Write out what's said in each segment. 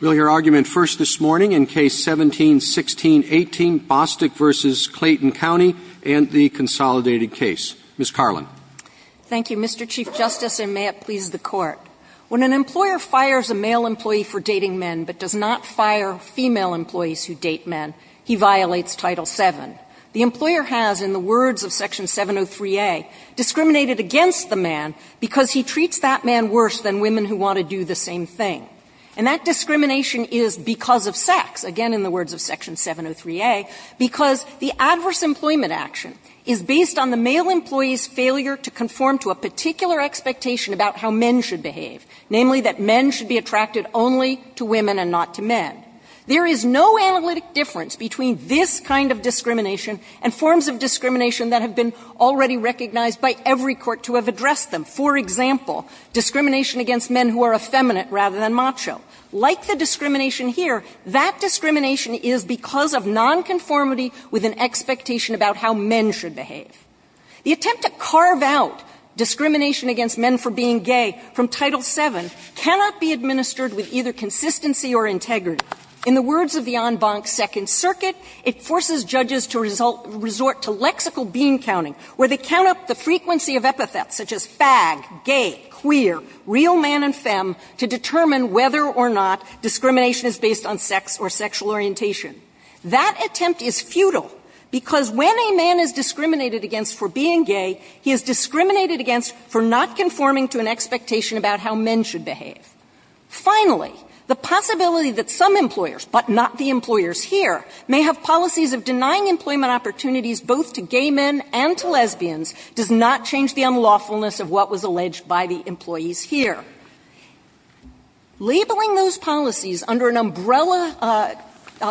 We'll hear argument first this morning in Case 17-16-18, Bostock v. Clayton County, and the consolidated case. Ms. Carlin. Thank you, Mr. Chief Justice, and may it please the Court. When an employer fires a male employee for dating men but does not fire female employees who date men, he violates Title VII. The employer has, in the words of Section 703a, discriminated against the man because he treats that man worse than women who want to do the same thing. And that discrimination is because of sex, again in the words of Section 703a, because the adverse employment action is based on the male employee's failure to conform to a particular expectation about how men should behave, namely that men should be attracted only to women and not to men. There is no analytic difference between this kind of discrimination and forms of discrimination that have been already recognized by every court to have addressed them. For example, discrimination against men who are effeminate rather than macho. Like the discrimination here, that discrimination is because of nonconformity with an expectation about how men should behave. The attempt to carve out discrimination against men for being gay from Title VII cannot be administered with either consistency or integrity. In the words of the en banc Second Circuit, it forces judges to resort to lexical bean-counting, where they count up the frequency of epithets such as fag, gay, queer, real man and femme to determine whether or not discrimination is based on sex or sexual orientation. That attempt is futile because when a man is discriminated against for being gay, he is discriminated against for not conforming to an expectation about how men should behave. Finally, the possibility that some employers, but not the employers here, may have policies of denying employment opportunities both to gay men and to lesbians does not change the unlawfulness of what was alleged by the employees here. Labeling those policies under an umbrella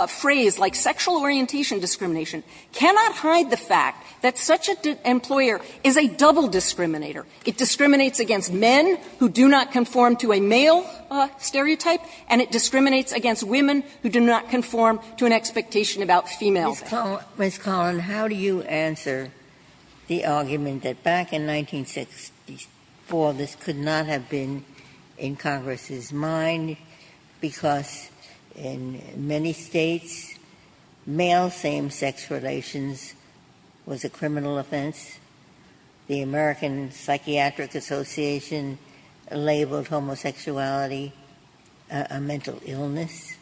phrase like sexual orientation discrimination cannot hide the fact that such an employer is a double discriminator. It discriminates against men who do not conform to a male stereotype, and it discriminates against women who do not conform to an expectation about female. Ginsburg. Ms. Collin, how do you answer the argument that back in 1964 this could not have been in Congress's mind because in many States, male same-sex relations was a criminal offense, the American Psychiatric Association labeled homosexuality a mental illness?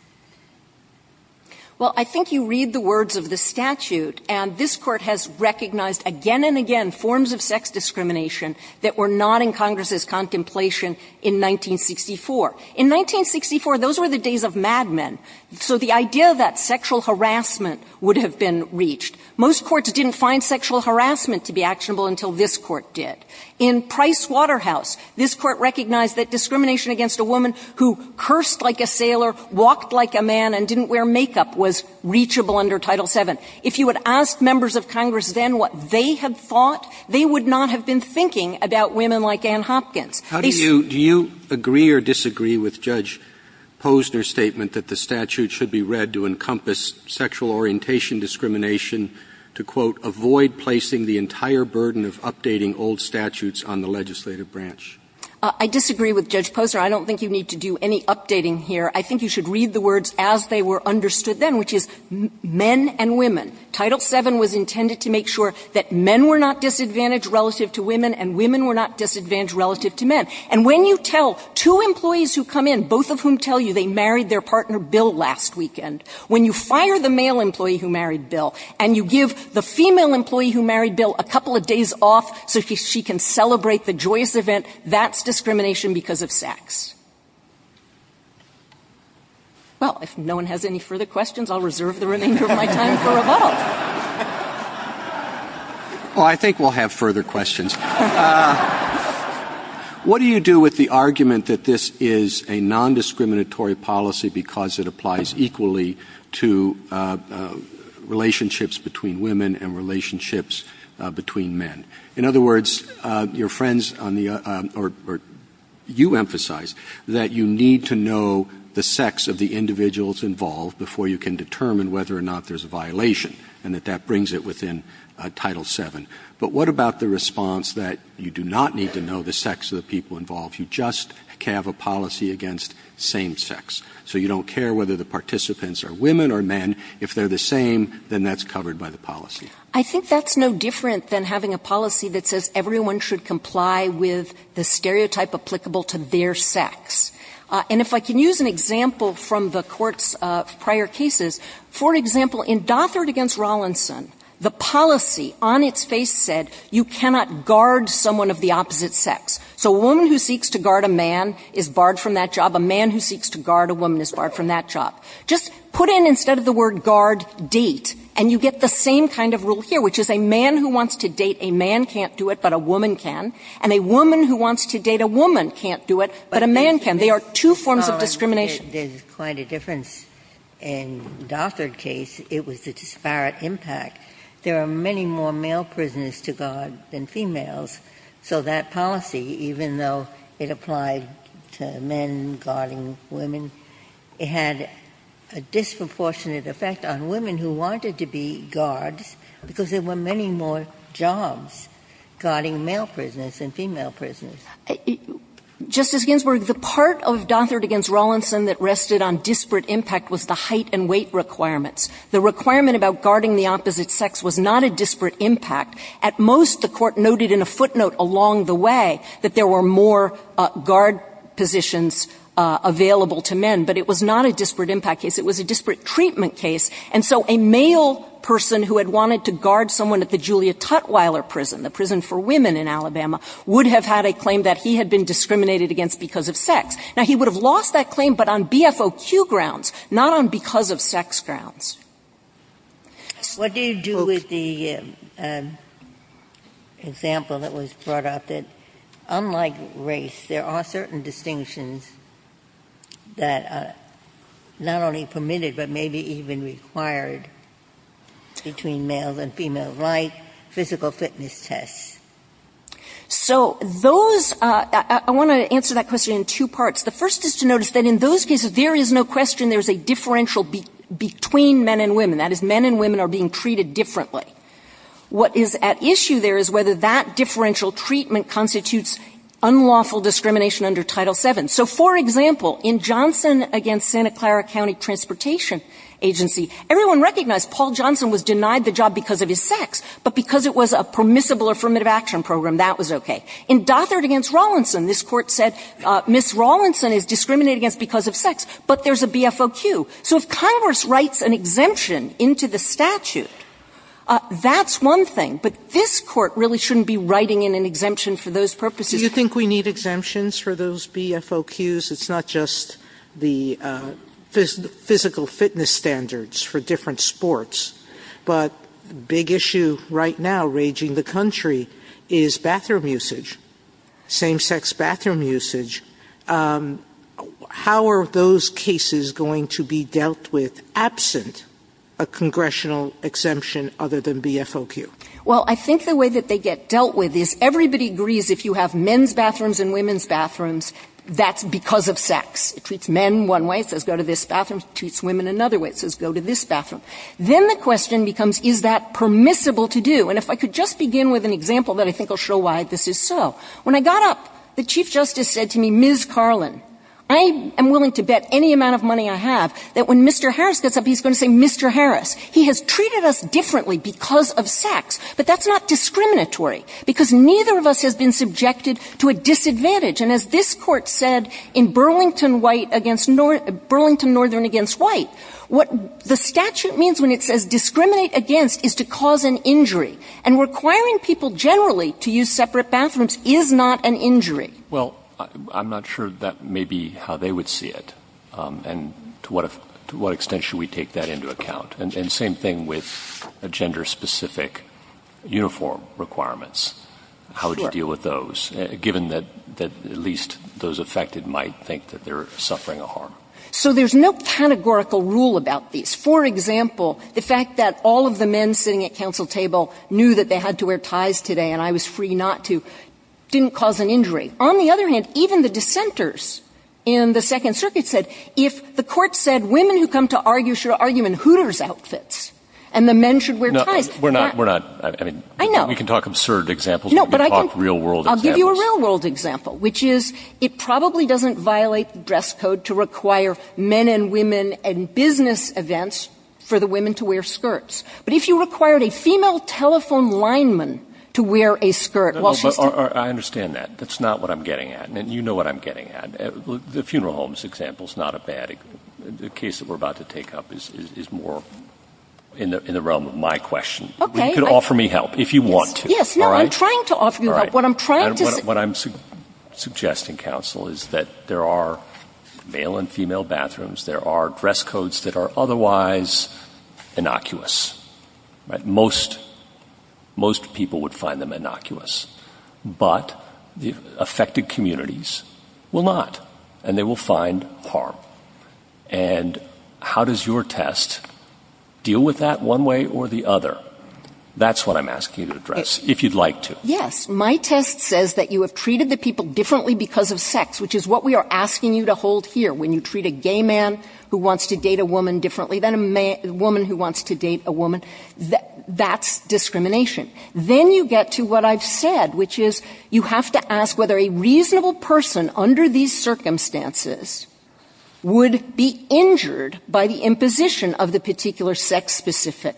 Well, I think you read the words of the statute, and this Court has recognized again and again forms of sex discrimination that were not in Congress's contemplation in 1964. In 1964, those were the days of madmen. So the idea that sexual harassment would have been reached. Most courts didn't find sexual harassment to be actionable until this Court did. In Price Waterhouse, this Court recognized that discrimination against a woman who cursed like a sailor, walked like a man, and didn't wear makeup was reachable under Title VII. If you had asked members of Congress then what they had thought, they would not have been thinking about women like Ann Hopkins. They said. Do you agree or disagree with Judge Posner's statement that the statute should be read to encompass sexual orientation discrimination to, quote, avoid placing the entire burden of updating old statutes on the legislative branch? I disagree with Judge Posner. I don't think you need to do any updating here. I think you should read the words as they were understood then, which is men and women. Title VII was intended to make sure that men were not disadvantaged relative to women and women were not disadvantaged relative to men. And when you tell two employees who come in, both of whom tell you they married their partner Bill last weekend, when you fire the male employee who married Bill and you give the female employee who married Bill a couple of days off so she can celebrate the joyous event, that's discrimination because of sex. Well, if no one has any further questions, I'll reserve the remainder of my time for a vote. Well, I think we'll have further questions. What do you do with the argument that this is a nondiscriminatory policy because it applies equally to relationships between women and relationships between men? In other words, your friends on the or you emphasize that you need to know the sex of the individuals involved before you can determine whether or not there's a violation, and that that brings it within Title VII. But what about the response that you do not need to know the sex of the people involved? You just have a policy against same sex. So you don't care whether the participants are women or men. If they're the same, then that's covered by the policy. I think that's no different than having a policy that says everyone should comply with the stereotype applicable to their sex. And if I can use an example from the Court's prior cases, for example, in Dothert v. Rollinson, the policy on its face said you cannot guard someone of the opposite sex. So a woman who seeks to guard a man is barred from that job. A man who seeks to guard a woman is barred from that job. Just put in, instead of the word guard, date, and you get the same kind of rule here, which is a man who wants to date a man can't do it, but a woman can. And a woman who wants to date a woman can't do it, but a man can. They are two forms of discrimination. Ginsburg. There's quite a difference. In Dothert's case, it was the disparate impact. There are many more male prisoners to guard than females, so that policy, even though it applied to men guarding women, it had a disproportionate effect on women who wanted to be guards because there were many more jobs guarding male prisoners than female prisoners. Justice Ginsburg, the part of Dothert v. Rollinson that rested on disparate impact was the height and weight requirements. The requirement about guarding the opposite sex was not a disparate impact. At most, the Court noted in a footnote along the way that there were more guard positions available to men, but it was not a disparate impact case. It was a disparate treatment case. And so a male person who had wanted to guard someone at the Julia Tutwiler prison, the prison for women in Alabama, would have had a claim that he had been discriminated against because of sex. Now, he would have lost that claim, but on BFOQ grounds, not on because of sex grounds. What do you do with the example that was brought up, that unlike race, there are certain distinctions that are not only permitted, but maybe even required between males and females, like physical fitness tests? So those — I want to answer that question in two parts. The first is to notice that in those cases, there is no question there is a differential between men and women. That is, men and women are being treated differently. What is at issue there is whether that differential treatment constitutes unlawful discrimination under Title VII. So, for example, in Johnson v. Santa Clara County Transportation Agency, everyone recognized Paul Johnson was denied the job because of his sex, but because it was a permissible affirmative action program, that was okay. In Dothert v. Rawlinson, this Court said, Ms. Rawlinson is discriminated against because of sex, but there's a BFOQ. So if Congress writes an exemption into the statute, that's one thing, but this Court really shouldn't be writing in an exemption for those purposes. Sotomayor, do you think we need exemptions for those BFOQs? It's not just the physical fitness standards for different sports, but the big issue right now raging the country is bathroom usage, same-sex bathroom usage. How are those cases going to be dealt with absent a congressional exemption other than BFOQ? Well, I think the way that they get dealt with is everybody agrees if you have men's bathrooms and women's bathrooms, that's because of sex. It treats men one way, it says go to this bathroom. It treats women another way, it says go to this bathroom. Then the question becomes, is that permissible to do? And if I could just begin with an example that I think will show why this is so. When I got up, the Chief Justice said to me, Ms. Carlin, I am willing to bet any amount of money I have that when Mr. Harris gets up, he's going to say, Mr. Harris, he has treated us differently because of sex, but that's not discriminatory because neither of us has been subjected to a disadvantage. And as this Court said in Burlington Northern Against White, what the statute means when it says discriminate against is to cause an injury. And requiring people generally to use separate bathrooms is not an injury. Well, I'm not sure that may be how they would see it, and to what extent should we take that into account? And same thing with gender-specific uniform requirements. Sure. How would you deal with those, given that at least those affected might think that they're suffering a harm? So there's no categorical rule about these. For example, the fact that all of the men sitting at counsel table knew that they had to wear ties today and I was free not to didn't cause an injury. On the other hand, even the dissenters in the Second Circuit said, if the Court said women who come to argue should argue in hooters outfits and the men should wear ties. We're not, we're not. I mean, we can talk absurd examples, but we can talk real-world examples. No, but I can give you a real-world example, which is it probably doesn't violate the dress code to require men and women and business events for the women to wear skirts. But if you required a female telephone lineman to wear a skirt while she's talking. I understand that. That's not what I'm getting at. And you know what I'm getting at. The funeral homes example is not a bad example. The case that we're about to take up is more in the realm of my question. Okay. You can offer me help if you want to. No, I'm trying to offer you help. What I'm trying to say. What I'm suggesting, counsel, is that there are male and female bathrooms. There are dress codes that are otherwise innocuous. Most people would find them innocuous. But the affected communities will not. And they will find harm. And how does your test deal with that one way or the other? That's what I'm asking you to address, if you'd like to. Yes. My test says that you have treated the people differently because of sex, which is what we are asking you to hold here. When you treat a gay man who wants to date a woman differently than a woman who wants to date a woman, that's discrimination. Then you get to what I've said, which is you have to ask whether a reasonable person under these circumstances would be injured by the imposition of the particular sex-specific.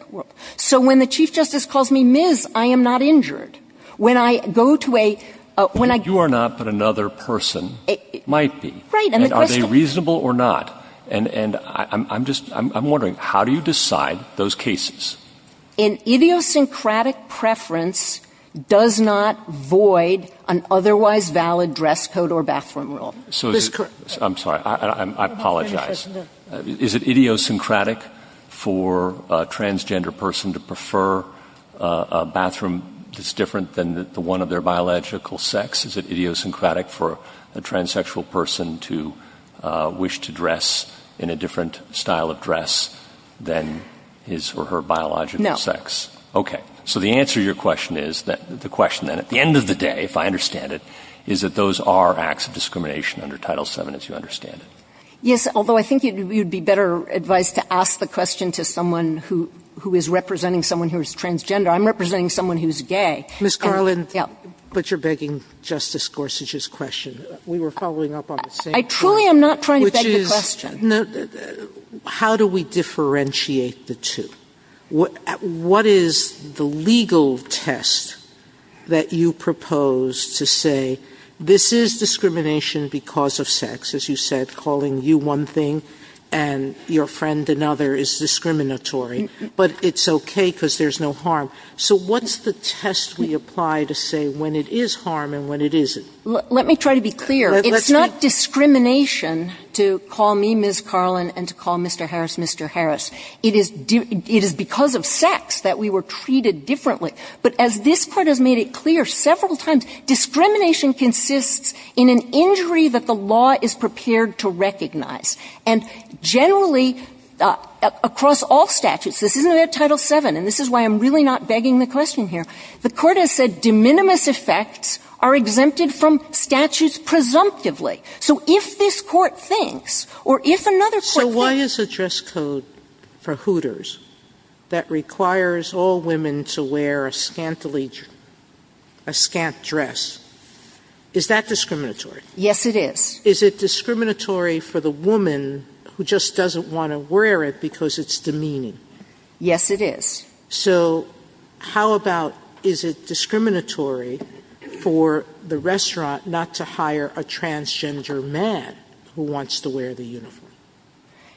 So when the Chief Justice calls me Ms., I am not injured. When I go to a ‑‑ You are not, but another person might be. Right. And are they reasonable or not? And I'm just ‑‑ I'm wondering, how do you decide those cases? An idiosyncratic preference does not void an otherwise valid dress code or bathroom rule. I'm sorry. I apologize. Is it idiosyncratic for a transgender person to prefer a bathroom that's different than the one of their biological sex? Is it idiosyncratic for a transsexual person to wish to dress in a different style of dress than his or her biological sex? No. Okay. So the answer to your question is, the question then, at the end of the day, if I understand it, is that those are acts of discrimination under Title VII, as you understand it. Yes, although I think you would be better advised to ask the question to someone who is representing someone who is transgender. I'm representing someone who is gay. Ms. Carlin. Yeah. But you're begging Justice Gorsuch's question. We were following up on the same point. I truly am not trying to beg the question. Which is, how do we differentiate the two? What is the legal test that you propose to say, this is discrimination because of sex, as you said, calling you one thing and your friend another is discriminatory. But it's okay because there's no harm. So what's the test we apply to say when it is harm and when it isn't? Let me try to be clear. It's not discrimination to call me Ms. Carlin and to call Mr. Harris Mr. Harris. It is because of sex that we were treated differently. But as this Court has made it clear several times, discrimination consists in an effect that the law is prepared to recognize. And generally, across all statutes, this isn't under Title VII, and this is why I'm really not begging the question here. The Court has said de minimis effects are exempted from statutes presumptively. So if this Court thinks, or if another Court thinks So why is the dress code for hooters that requires all women to wear a scantily a scant dress, is that discriminatory? Yes, it is. Is it discriminatory for the woman who just doesn't want to wear it because it's demeaning? Yes, it is. So how about is it discriminatory for the restaurant not to hire a transgender man who wants to wear the uniform?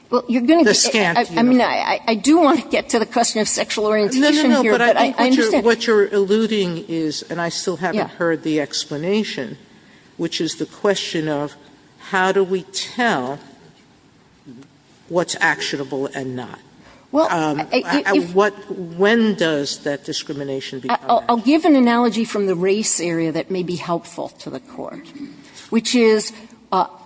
The scant uniform. I mean, I do want to get to the question of sexual orientation here, but I understand. Sotomayor, what you're alluding is, and I still haven't heard the explanation, which is the question of how do we tell what's actionable and not? When does that discrimination become actionable? I'll give an analogy from the race area that may be helpful to the Court, which is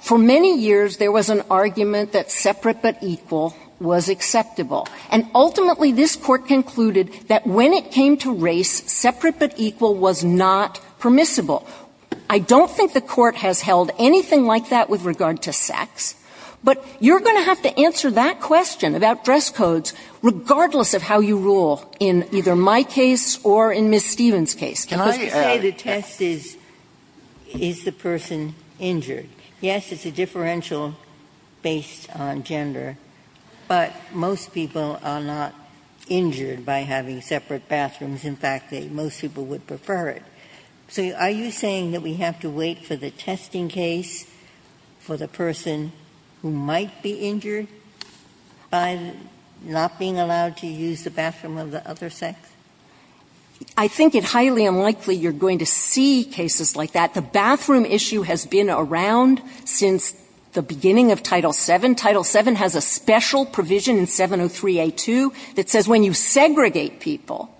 for many years there was an argument that separate but equal was acceptable. And ultimately, this Court concluded that when it came to race, separate but equal was not permissible. I don't think the Court has held anything like that with regard to sex. But you're going to have to answer that question about dress codes regardless of how you rule in either my case or in Ms. Stevens' case. Ginsburg. Can I just say the test is, is the person injured? Yes, it's a differential based on gender, but most people are not injured by having separate bathrooms. In fact, most people would prefer it. So are you saying that we have to wait for the testing case for the person who might be injured by not being allowed to use the bathroom of the other sex? I think it highly unlikely you're going to see cases like that. The bathroom issue has been around since the beginning of Title VII. Title VII has a special provision in 703A2 that says when you segregate people,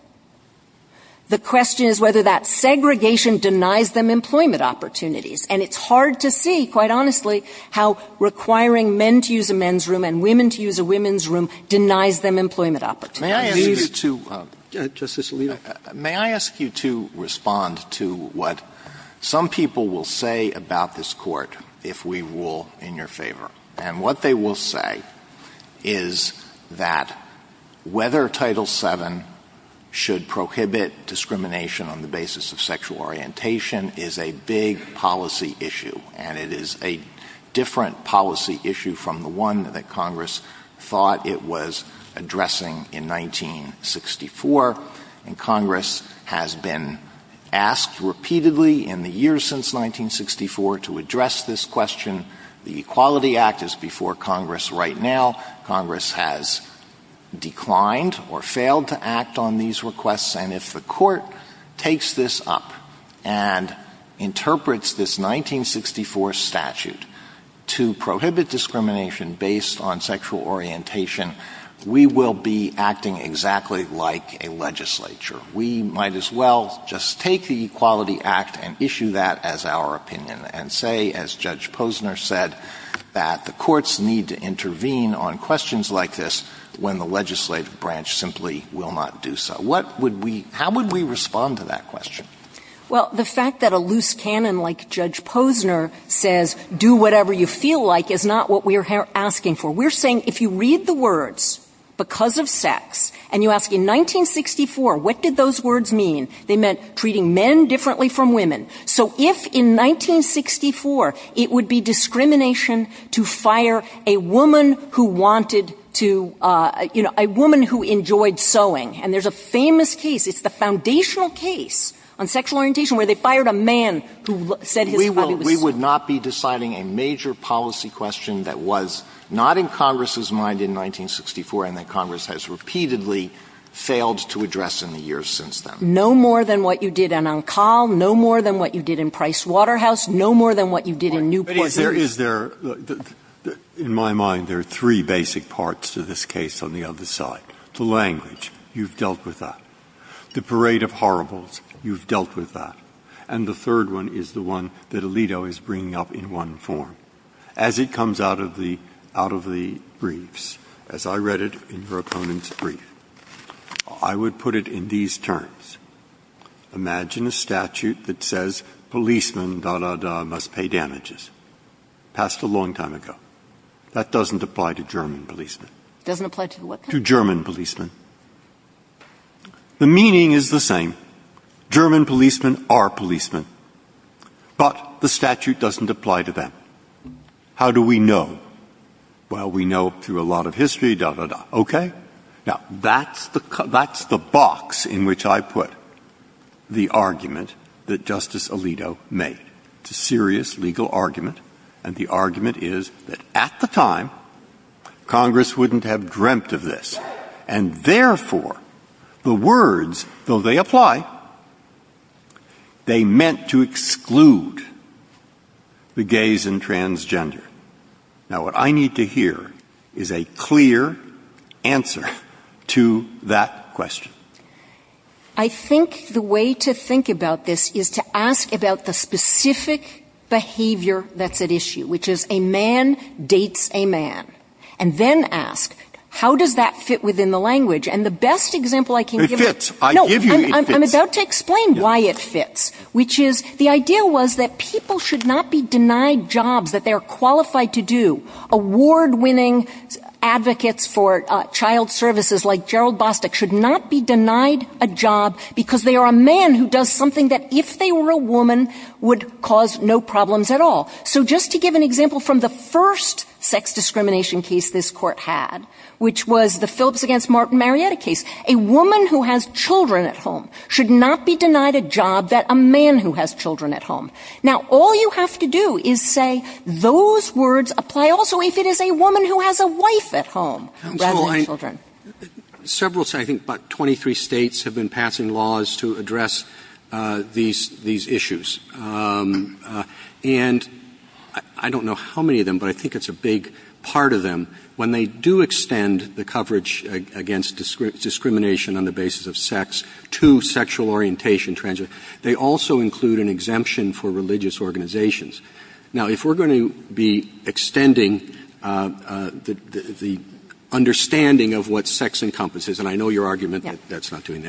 the question is whether that segregation denies them employment opportunities. And it's hard to see, quite honestly, how requiring men to use a men's room and women to use a women's room denies them employment opportunities. Justice Alito. May I ask you to respond to what some people will say about this Court if we rule in your favor? And what they will say is that whether Title VII should prohibit discrimination on the basis of sexual orientation is a big policy issue, and it is a different policy issue from the one that Congress thought it was addressing in 1964. And Congress has been asked repeatedly in the years since 1964 to address this question. The Equality Act is before Congress right now. Congress has declined or failed to act on these requests. And if the Court takes this up and interprets this 1964 statute to prohibit discrimination based on sexual orientation, we will be acting exactly like a legislature. We might as well just take the Equality Act and issue that as our opinion and say, as Judge Posner said, that the courts need to intervene on questions like this when the legislative branch simply will not do so. What would we — how would we respond to that question? Well, the fact that a loose canon like Judge Posner says, do whatever you feel like, is not what we are asking for. We're saying if you read the words, because of sex, and you ask, in 1964, what did those words mean? They meant treating men differently from women. So if in 1964 it would be discrimination to fire a woman who wanted to — you know, a woman who enjoyed sewing. And there's a famous case, it's the foundational case on sexual orientation, where they fired a man who said his hobby was sewing. We would not be deciding a major policy question that was not in Congress's mind in 1964 and that Congress has repeatedly failed to address in the years since then. No more than what you did in Encal, no more than what you did in Pricewaterhouse, no more than what you did in Newport. Breyer. In my mind, there are three basic parts to this case on the other side. The language, you've dealt with that. The parade of horribles, you've dealt with that. And the third one is the one that Alito is bringing up in one form. As it comes out of the — out of the briefs, as I read it in your opponent's brief, I would put it in these terms. Imagine a statute that says policemen, dah, dah, dah, must pay damages. Passed a long time ago. That doesn't apply to German policemen. Kagan. Doesn't apply to what? Breyer. To German policemen. The meaning is the same. German policemen are policemen. But the statute doesn't apply to them. How do we know? Well, we know through a lot of history, dah, dah, dah. Okay? Now, that's the box in which I put the argument that Justice Alito made. It's a serious legal argument. And the argument is that at the time, Congress wouldn't have dreamt of this. And therefore, the words, though they apply, they meant to exclude the gays and transgender. Now, what I need to hear is a clear answer to that question. I think the way to think about this is to ask about the specific behavior that's at issue, which is a man dates a man. And then ask, how does that fit within the language? And the best example I can give you It fits. I give you it fits. No. I'm about to explain why it fits, which is the idea was that people should not be denied jobs that they are qualified to do. Award-winning advocates for child services like Gerald Bostic should not be denied a job because they are a man who does something that, if they were a woman, would cause no problems at all. So just to give an example from the first sex discrimination case this Court had, which was the Phillips v. Martin Marietta case, a woman who has children at home should not be denied a job that a man who has children at home. Now, all you have to do is say those words apply also if it is a woman who has a wife at home rather than children. Several, I think about 23 States, have been passing laws to address these issues. And I don't know how many of them, but I think it's a big part of them. When they do extend the coverage against discrimination on the basis of sex to sexual orientation, they also include an exemption for religious organizations. Now, if we are going to be extending the understanding of what sex encompasses and I know your argument that that's not doing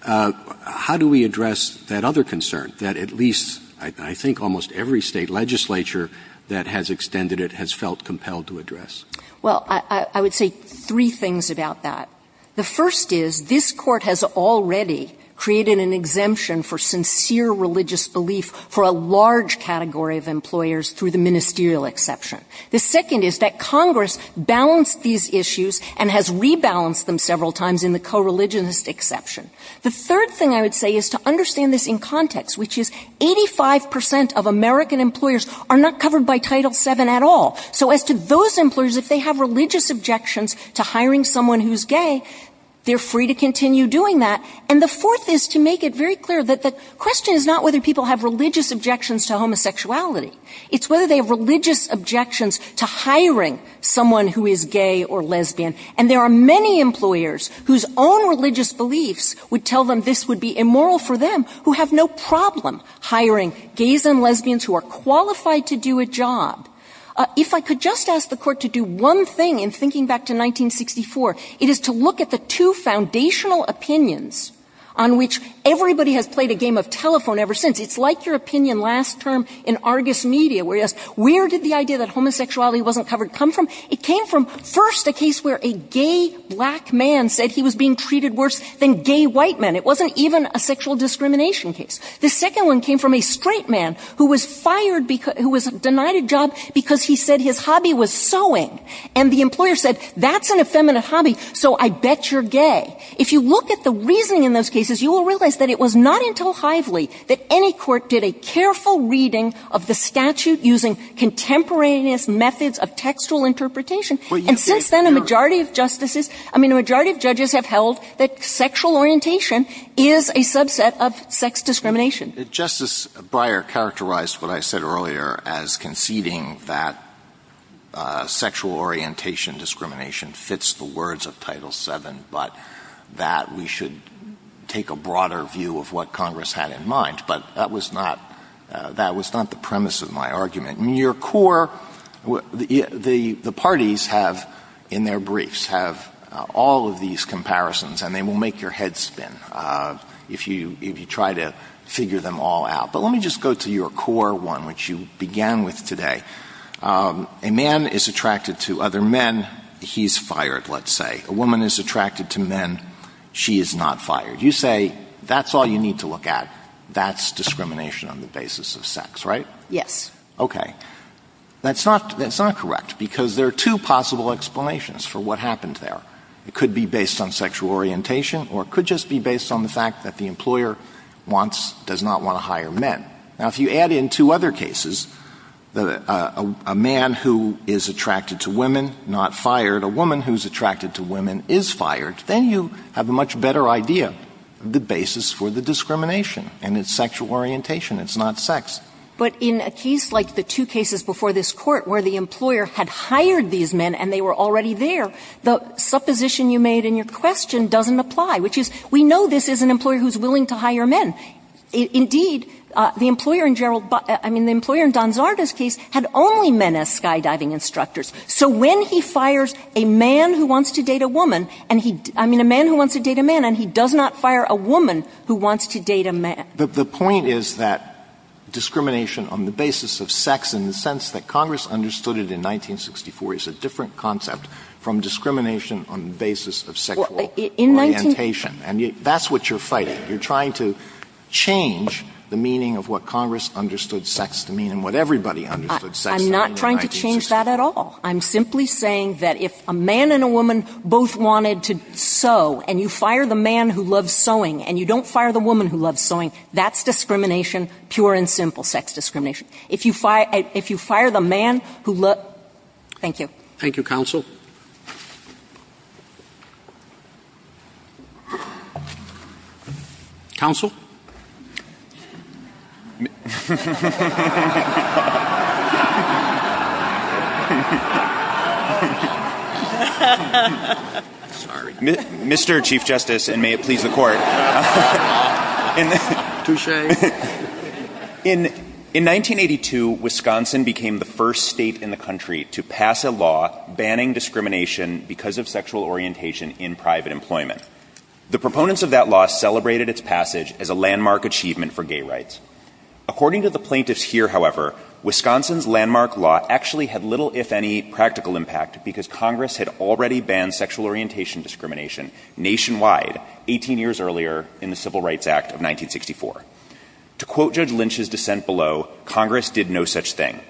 that, how do we address that other concern that at least I think almost every State legislature that has extended it has felt compelled to address? Well, I would say three things about that. The first is this Court has already created an exemption for sincere religious belief for a large category of employers through the ministerial exception. The second is that Congress balanced these issues and has rebalanced them several times in the co-religionist exception. The third thing I would say is to understand this in context, which is 85 percent of American employers are not covered by Title VII at all. So as to those employers, if they have religious objections to hiring someone who's gay, they're free to continue doing that. And the fourth is to make it very clear that the question is not whether people have religious objections to homosexuality. It's whether they have religious objections to hiring someone who is gay or lesbian. And there are many employers whose own religious beliefs would tell them this would be immoral for them who have no problem hiring gays and lesbians who are qualified to do a job. If I could just ask the Court to do one thing in thinking back to 1964, it is to look at the two foundational opinions on which everybody has played a game of telephone ever since. It's like your opinion last term in Argus Media where you asked where did the idea that homosexuality wasn't covered come from? It came from first a case where a gay black man said he was being treated worse than gay white men. It wasn't even a sexual discrimination case. The second one came from a straight man who was fired because he was denied a job because he said his hobby was sewing. And the employer said that's an effeminate hobby, so I bet you're gay. If you look at the reasoning in those cases, you will realize that it was not until Hively that any court did a careful reading of the statute using contemporaneous methods of textual interpretation. And since then, a majority of justices, I mean, a majority of judges have held that it's discrimination. Justice Breyer characterized what I said earlier as conceding that sexual orientation discrimination fits the words of Title VII, but that we should take a broader view of what Congress had in mind. But that was not the premise of my argument. In your core, the parties have, in their briefs, have all of these comparisons and they will make your head spin. If you try to figure them all out. But let me just go to your core one, which you began with today. A man is attracted to other men. He's fired, let's say. A woman is attracted to men. She is not fired. You say that's all you need to look at. That's discrimination on the basis of sex, right? Yes. Okay. That's not correct because there are two possible explanations for what happened there. It could be based on sexual orientation or it could just be based on the fact that the employer wants, does not want to hire men. Now, if you add in two other cases, a man who is attracted to women, not fired, a woman who's attracted to women is fired, then you have a much better idea of the basis for the discrimination. And it's sexual orientation. It's not sex. But in a case like the two cases before this Court where the employer had hired these men and they were already there, the supposition you made in your question doesn't apply, which is we know this is an employer who's willing to hire men. Indeed, the employer in Gerald, I mean, the employer in Donzardo's case had only men as skydiving instructors. So when he fires a man who wants to date a woman and he, I mean, a man who wants to date a man and he does not fire a woman who wants to date a man. The point is that discrimination on the basis of sex in the sense that Congress understood it in 1964 is a different concept from discrimination on the basis of sexual orientation. And that's what you're fighting. You're trying to change the meaning of what Congress understood sex to mean and what everybody understood sex to mean in 1964. I'm not trying to change that at all. I'm simply saying that if a man and a woman both wanted to sew and you fire the man who loves sewing and you don't fire the woman who loves sewing, that's discrimination, pure and simple sex discrimination. If you fire, if you fire the man who loves, thank you. Thank you, counsel. Counsel? Mr. Chief Justice, and may it please the court. Touche. In 1982, Wisconsin became the first state in the country to pass a law banning discrimination because of sexual orientation in private employment. The proponents of that law celebrated its passage as a landmark achievement for gay rights. According to the plaintiffs here, however, Wisconsin's landmark law actually had little, if any, practical impact because Congress had already banned sexual orientation discrimination nationwide 18 years earlier in the Civil Rights Act of 1964. To quote Judge Lynch's dissent below, Congress did no such thing.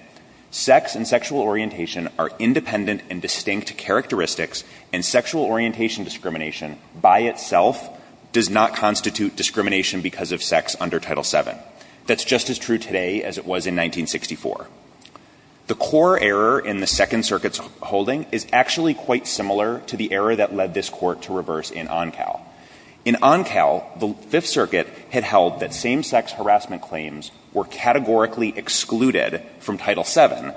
Sex and sexual orientation are independent and distinct characteristics and sexual orientation discrimination by itself does not constitute discrimination because of sex under Title VII. That's just as true today as it was in 1964. The core error in the Second Circuit's holding is actually quite similar to the error that led this Court to reverse in Oncal. In Oncal, the Fifth Circuit had held that same-sex harassment claims were categorically excluded from Title VII.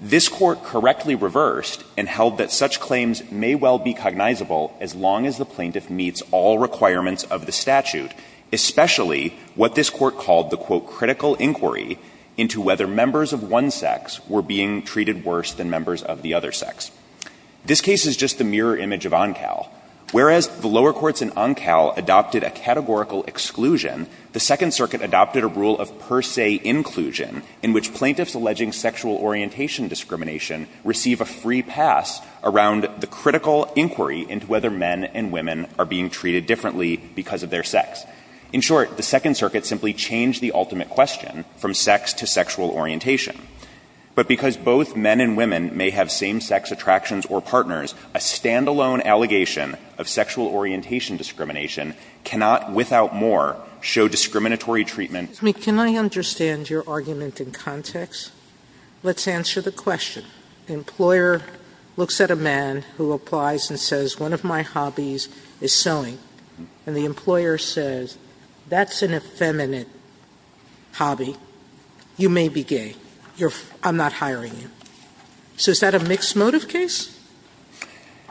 This Court correctly reversed and held that such claims may well be cognizable as long as the plaintiff meets all requirements of the statute, especially what this Court called the, quote, critical inquiry into whether members of one sex were being treated worse than members of the other sex. This case is just the mirror image of Oncal. Whereas the lower courts in Oncal adopted a categorical exclusion, the Second Circuit adopted a rule of per se inclusion in which plaintiffs alleging sexual orientation discrimination receive a free pass around the critical inquiry into whether men and women are being treated differently because of their sex. In short, the Second Circuit simply changed the ultimate question from sex to sexual orientation, but because both men and women may have same-sex attractions or partners, a standalone allegation of sexual orientation discrimination cannot without more show discriminatory treatment. Sotomayor, can I understand your argument in context? Let's answer the question. The employer looks at a man who applies and says, one of my hobbies is sewing. And the employer says, that's an effeminate hobby. You may be gay. I'm not hiring you. So is that a mixed motive case?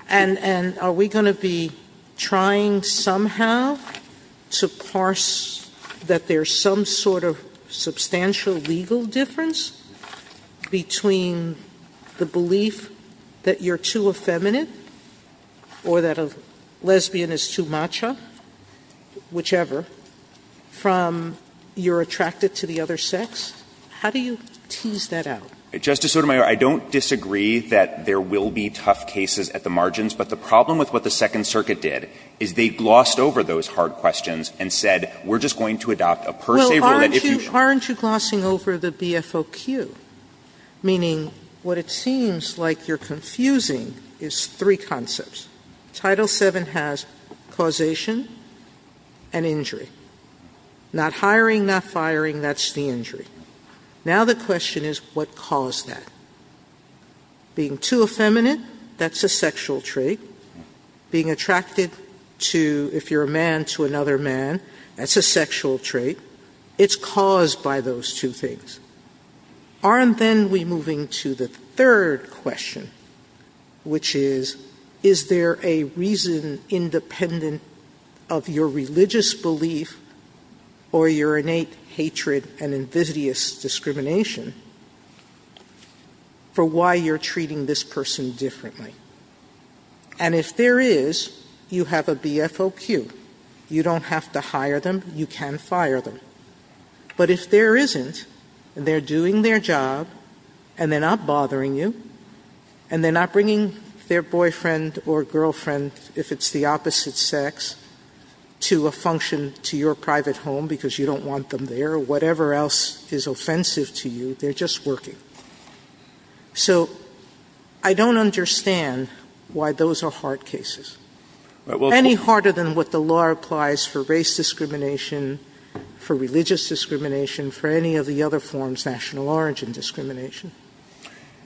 And are we going to be trying somehow to parse that there's some sort of substantial legal difference between the belief that you're too effeminate or that a lesbian is too macho, whichever, from you're attracted to the other sex? How do you tease that out? Justice Sotomayor, I don't disagree that there will be tough cases at the margins, but the problem with what the Second Circuit did is they glossed over those hard questions and said, we're just going to adopt a per se rule that if you show. Sotomayor, aren't you glossing over the BFOQ? Meaning, what it seems like you're confusing is three concepts. Title VII has causation and injury. Not hiring, not firing, that's the injury. Now the question is, what caused that? Being too effeminate, that's a sexual trait. Being attracted to, if you're a man, to another man, that's a sexual trait. It's caused by those two things. Aren't then we moving to the third question, which is, is there a reason independent of your religious belief or your innate hatred and invidious discrimination for why you're treating this person differently? And if there is, you have a BFOQ. You don't have to hire them. You can fire them. But if there isn't, and they're doing their job, and they're not bothering you, and they're not bringing their boyfriend or girlfriend, if it's the opposite sex, to a function to your private home because you don't want them there, or whatever else is offensive to you, they're just working. So I don't understand why those are hard cases. Any harder than what the law applies for race discrimination, for religious discrimination, for any of the other forms, national origin discrimination.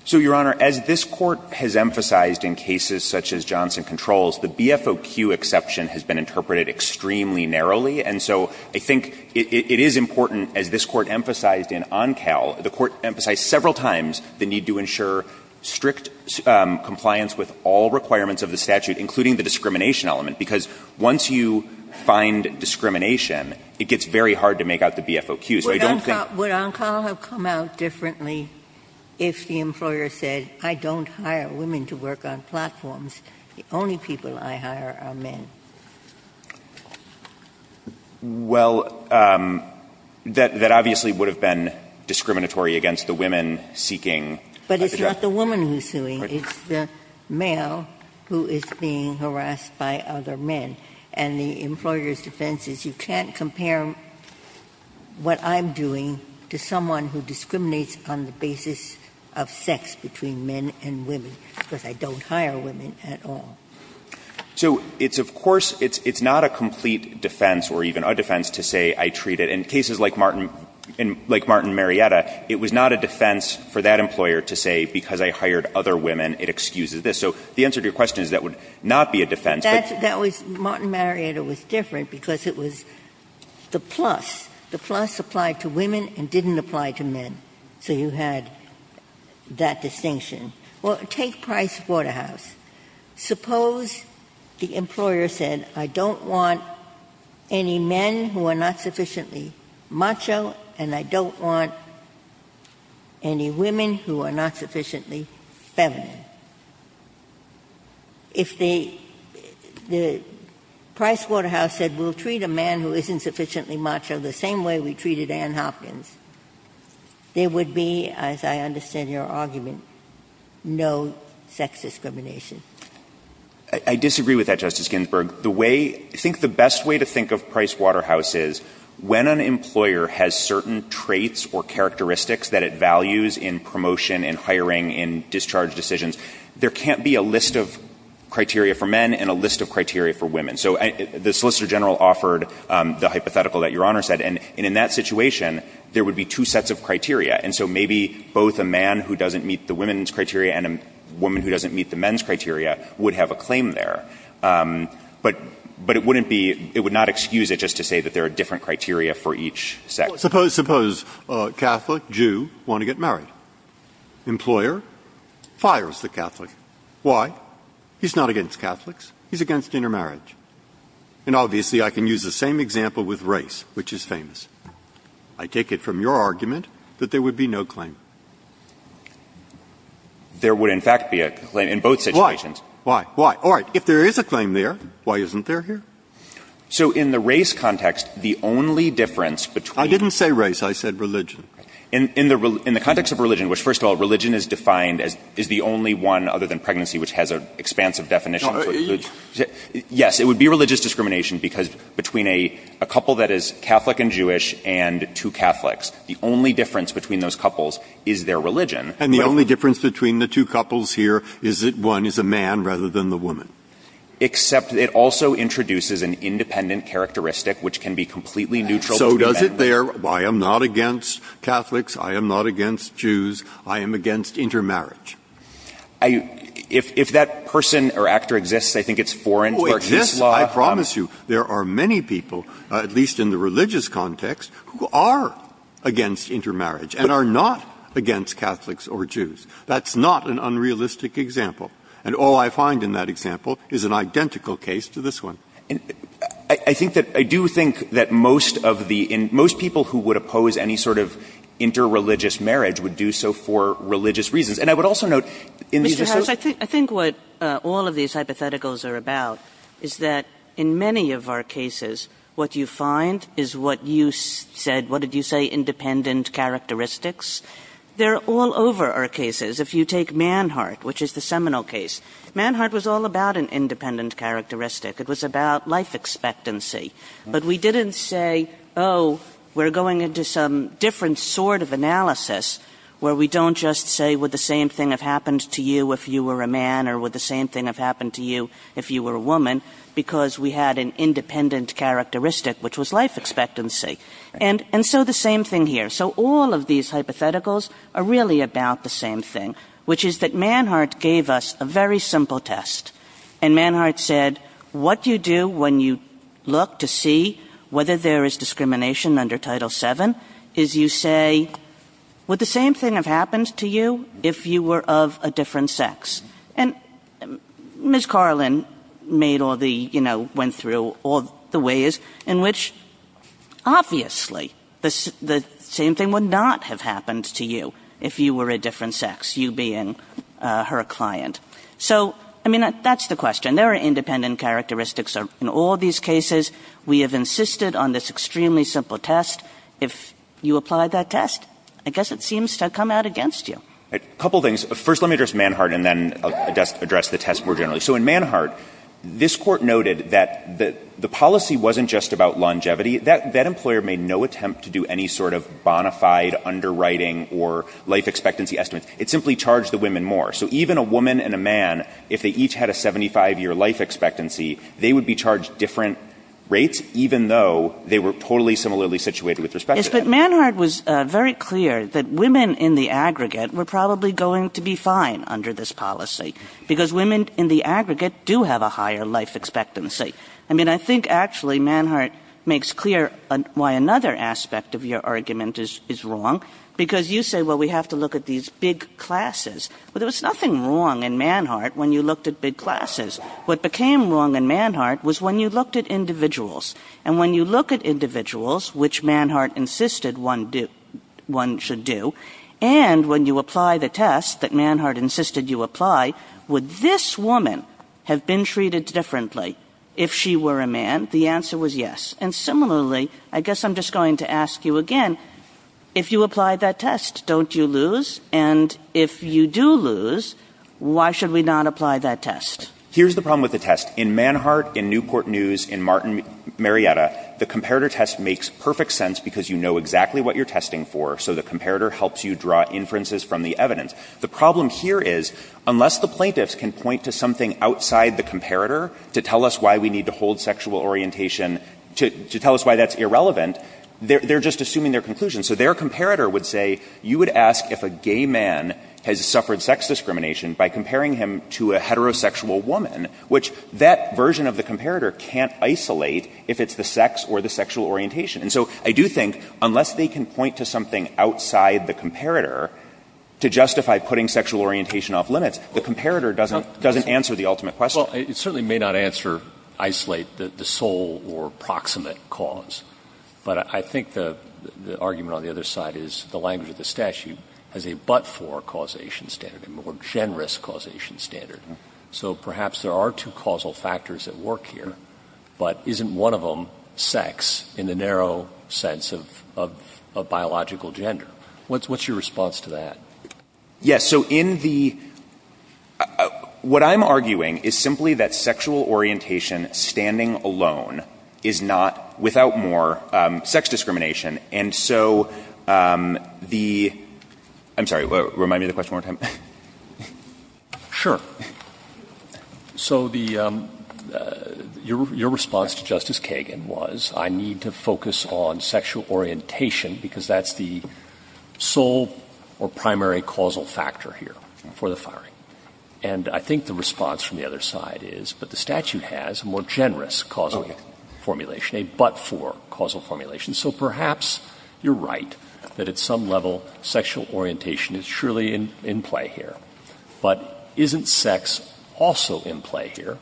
So, Your Honor, as this Court has emphasized in cases such as Johnson Controls, the BFOQ exception has been interpreted extremely narrowly. And so I think it is important, as this Court emphasized in Oncal, the Court emphasized several times the need to ensure strict compliance with all requirements of the statute, including the discrimination element, because once you find discrimination, it gets very hard to make out the BFOQ. So I don't think the BFOQ should be used. Ginsburg. Would Oncal have come out differently if the employer said, I don't hire women to work on platforms. The only people I hire are men. Well, that obviously would have been discriminatory against the women seeking. But it's not the woman who's suing. It's the male who is being harassed by other men. And the employer's defense is, you can't compare what I'm doing to someone who discriminates on the basis of sex between men and women, because I don't hire women at all. So it's, of course, it's not a complete defense or even a defense to say, I treat it. In cases like Martin Marietta, it was not a defense for that employer to say, because I hired other women, it excuses this. Martin Marietta was different, because it was the plus. The plus applied to women and didn't apply to men. So you had that distinction. Well, take Price Waterhouse. Suppose the employer said, I don't want any men who are not sufficiently macho, and I don't want any women who are not sufficiently feminine. If they, the Price Waterhouse said, we'll treat a man who isn't sufficiently macho the same way we treated Ann Hopkins, there would be, as I understand your argument, no sex discrimination. I disagree with that, Justice Ginsburg. The way, I think the best way to think of Price Waterhouse is, when an employer has certain traits or characteristics that it values in promotion, in hiring, in discharge decisions, there can't be a list of criteria for men and a list of criteria for women. So the Solicitor General offered the hypothetical that Your Honor said, and in that situation, there would be two sets of criteria. And so maybe both a man who doesn't meet the women's criteria and a woman who doesn't meet the men's criteria would have a claim there. But it wouldn't be, it would not excuse it just to say that there are different criteria for each sex. Suppose Catholic, Jew, want to get married. Employer? Fires the Catholic. Why? He's not against Catholics. He's against intermarriage. And obviously, I can use the same example with race, which is famous. I take it from your argument that there would be no claim. There would, in fact, be a claim in both situations. Why? Why? Why? All right. If there is a claim there, why isn't there here? So in the race context, the only difference between the two. I didn't say race. I said religion. In the context of religion, which, first of all, religion is defined as is the only one other than pregnancy, which has an expansive definition. Yes, it would be religious discrimination because between a couple that is Catholic and Jewish and two Catholics, the only difference between those couples is their religion. And the only difference between the two couples here is that one is a man rather than the woman. neutral to the man. Who does it there? I am not against Catholics. I am not against Jews. I am against intermarriage. If that person or actor exists, I think it's foreign to our case law. It exists, I promise you. There are many people, at least in the religious context, who are against intermarriage and are not against Catholics or Jews. That's not an unrealistic example. And all I find in that example is an identical case to this one. I do think that most people who would oppose any sort of interreligious marriage would do so for religious reasons. And I would also note in these associations. Kagan. Mr. Harris, I think what all of these hypotheticals are about is that in many of our cases, what you find is what you said, what did you say, independent characteristics. They're all over our cases. If you take Manhart, which is the seminal case, Manhart was all about an independent characteristic. It was about life expectancy. But we didn't say, oh, we're going into some different sort of analysis where we don't just say would the same thing have happened to you if you were a man or would the same thing have happened to you if you were a woman because we had an independent characteristic, which was life expectancy. And so the same thing here. So all of these hypotheticals are really about the same thing, which is that Manhart gave us a very simple test. And Manhart said what you do when you look to see whether there is discrimination under Title VII is you say would the same thing have happened to you if you were of a different sex. And Ms. Carlin made all the, you know, went through all the ways in which obviously the same thing would not have happened to you if you were a different sex, you being her client. So, I mean, that's the question. There are independent characteristics in all these cases. We have insisted on this extremely simple test. If you apply that test, I guess it seems to come out against you. First let me address Manhart and then address the test more generally. So in Manhart, this Court noted that the policy wasn't just about longevity. That employer made no attempt to do any sort of bona fide underwriting or life expectancy estimates. It simply charged the women more. So even a woman and a man, if they each had a 75-year life expectancy, they would be charged different rates, even though they were totally similarly situated with respect to them. Kagan. But Manhart was very clear that women in the aggregate were probably going to be fine under this policy, because women in the aggregate do have a higher life expectancy. I mean, I think actually Manhart makes clear why another aspect of your argument is wrong, because you say, well, we have to look at these big classes. Well, there was nothing wrong in Manhart when you looked at big classes. What became wrong in Manhart was when you looked at individuals. And when you look at individuals, which Manhart insisted one should do, and when you apply the test that Manhart insisted you apply, would this woman have been treated differently if she were a man? The answer was yes. And similarly, I guess I'm just going to ask you again, if you apply that test, don't you lose? And if you do lose, why should we not apply that test? Here's the problem with the test. In Manhart, in Newport News, in Martin Marietta, the comparator test makes perfect sense, because you know exactly what you're testing for, so the comparator helps you draw inferences from the evidence. The problem here is, unless the plaintiffs can point to something outside the comparator to tell us why we need to hold sexual orientation to tell us why that's irrelevant, they're just assuming their conclusion. So their comparator would say, you would ask if a gay man has suffered sex discrimination by comparing him to a heterosexual woman, which that version of the comparator can't isolate if it's the sex or the sexual orientation. And so I do think, unless they can point to something outside the comparator to justify putting sexual orientation off limits, the comparator doesn't answer the ultimate question. Well, it certainly may not answer, isolate, the sole or proximate cause. But I think the argument on the other side is the language of the statute has a but-for causation standard, a more generous causation standard. So perhaps there are two causal factors at work here, but isn't one of them sex in the narrow sense of biological gender? What's your response to that? Yes. So in the — what I'm arguing is simply that sexual orientation standing alone is not, without more, sex discrimination. And so the — I'm sorry, remind me of the question one more time. Sure. So the — your response to Justice Kagan was, I need to focus on sexual orientation because that's the sole or primary causal factor here for the firing. And I think the response from the other side is, but the statute has a more generous causal formulation, a but-for causal formulation. So perhaps you're right that at some level sexual orientation is surely in play here. But isn't sex also in play here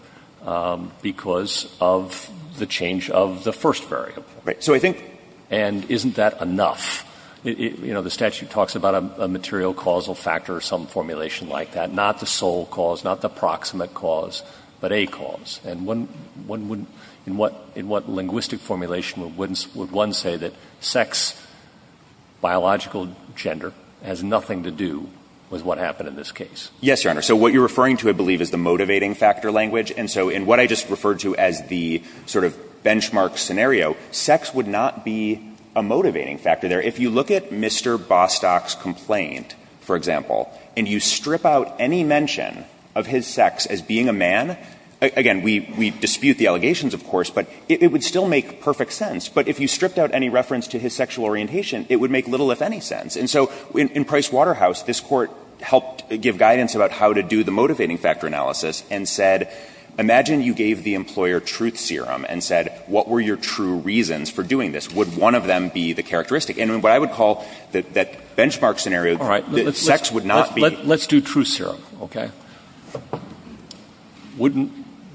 because of the change of the first variable? Right. So I think— And isn't that enough? You know, the statute talks about a material causal factor or some formulation like that, not the sole cause, not the proximate cause, but a cause. And one wouldn't — in what linguistic formulation would one say that sex, biological gender, has nothing to do with what happened in this case? Yes, Your Honor. So what you're referring to, I believe, is the motivating factor language. And so in what I just referred to as the sort of benchmark scenario, sex would not be a motivating factor there. If you look at Mr. Bostock's complaint, for example, and you strip out any mention of his sex as being a man — again, we dispute the allegations, of course, but it would still make perfect sense. But if you stripped out any reference to his sexual orientation, it would make little, if any, sense. And so in Price Waterhouse, this Court helped give guidance about how to do the motivating factor analysis and said, imagine you gave the employer truth serum and said, what were your true reasons for doing this? Would one of them be the characteristic? And in what I would call that benchmark scenario, sex would not be—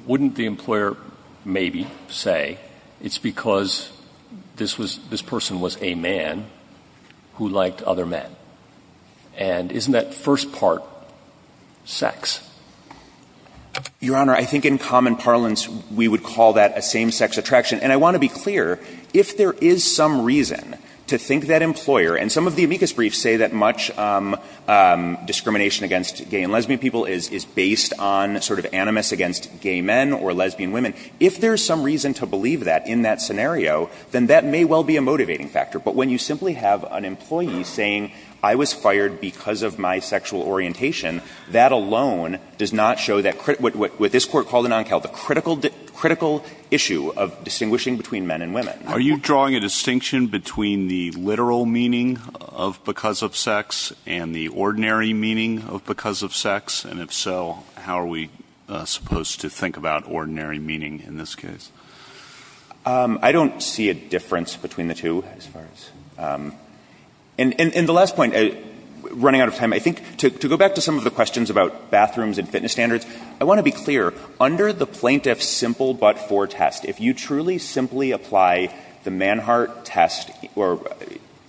Wouldn't the employer maybe say it's because this person was a man who liked other men? And isn't that first part sex? Your Honor, I think in common parlance, we would call that a same-sex attraction. And I want to be clear. If there is some reason to think that employer — and some of the amicus briefs say that much discrimination against gay and lesbian people is based on sort of animus against gay men or lesbian women. If there is some reason to believe that in that scenario, then that may well be a motivating factor. But when you simply have an employee saying, I was fired because of my sexual orientation, that alone does not show that — what this Court called a non-cal, the critical issue of distinguishing between men and women. Are you drawing a distinction between the literal meaning of because of sex and the ordinary meaning of because of sex? And if so, how are we supposed to think about ordinary meaning in this case? I don't see a difference between the two as far as — and the last point, running out of time, I think to go back to some of the questions about bathrooms and fitness standards, I want to be clear. Under the Plaintiff's simple but-for test, if you truly simply apply the Manhart test or —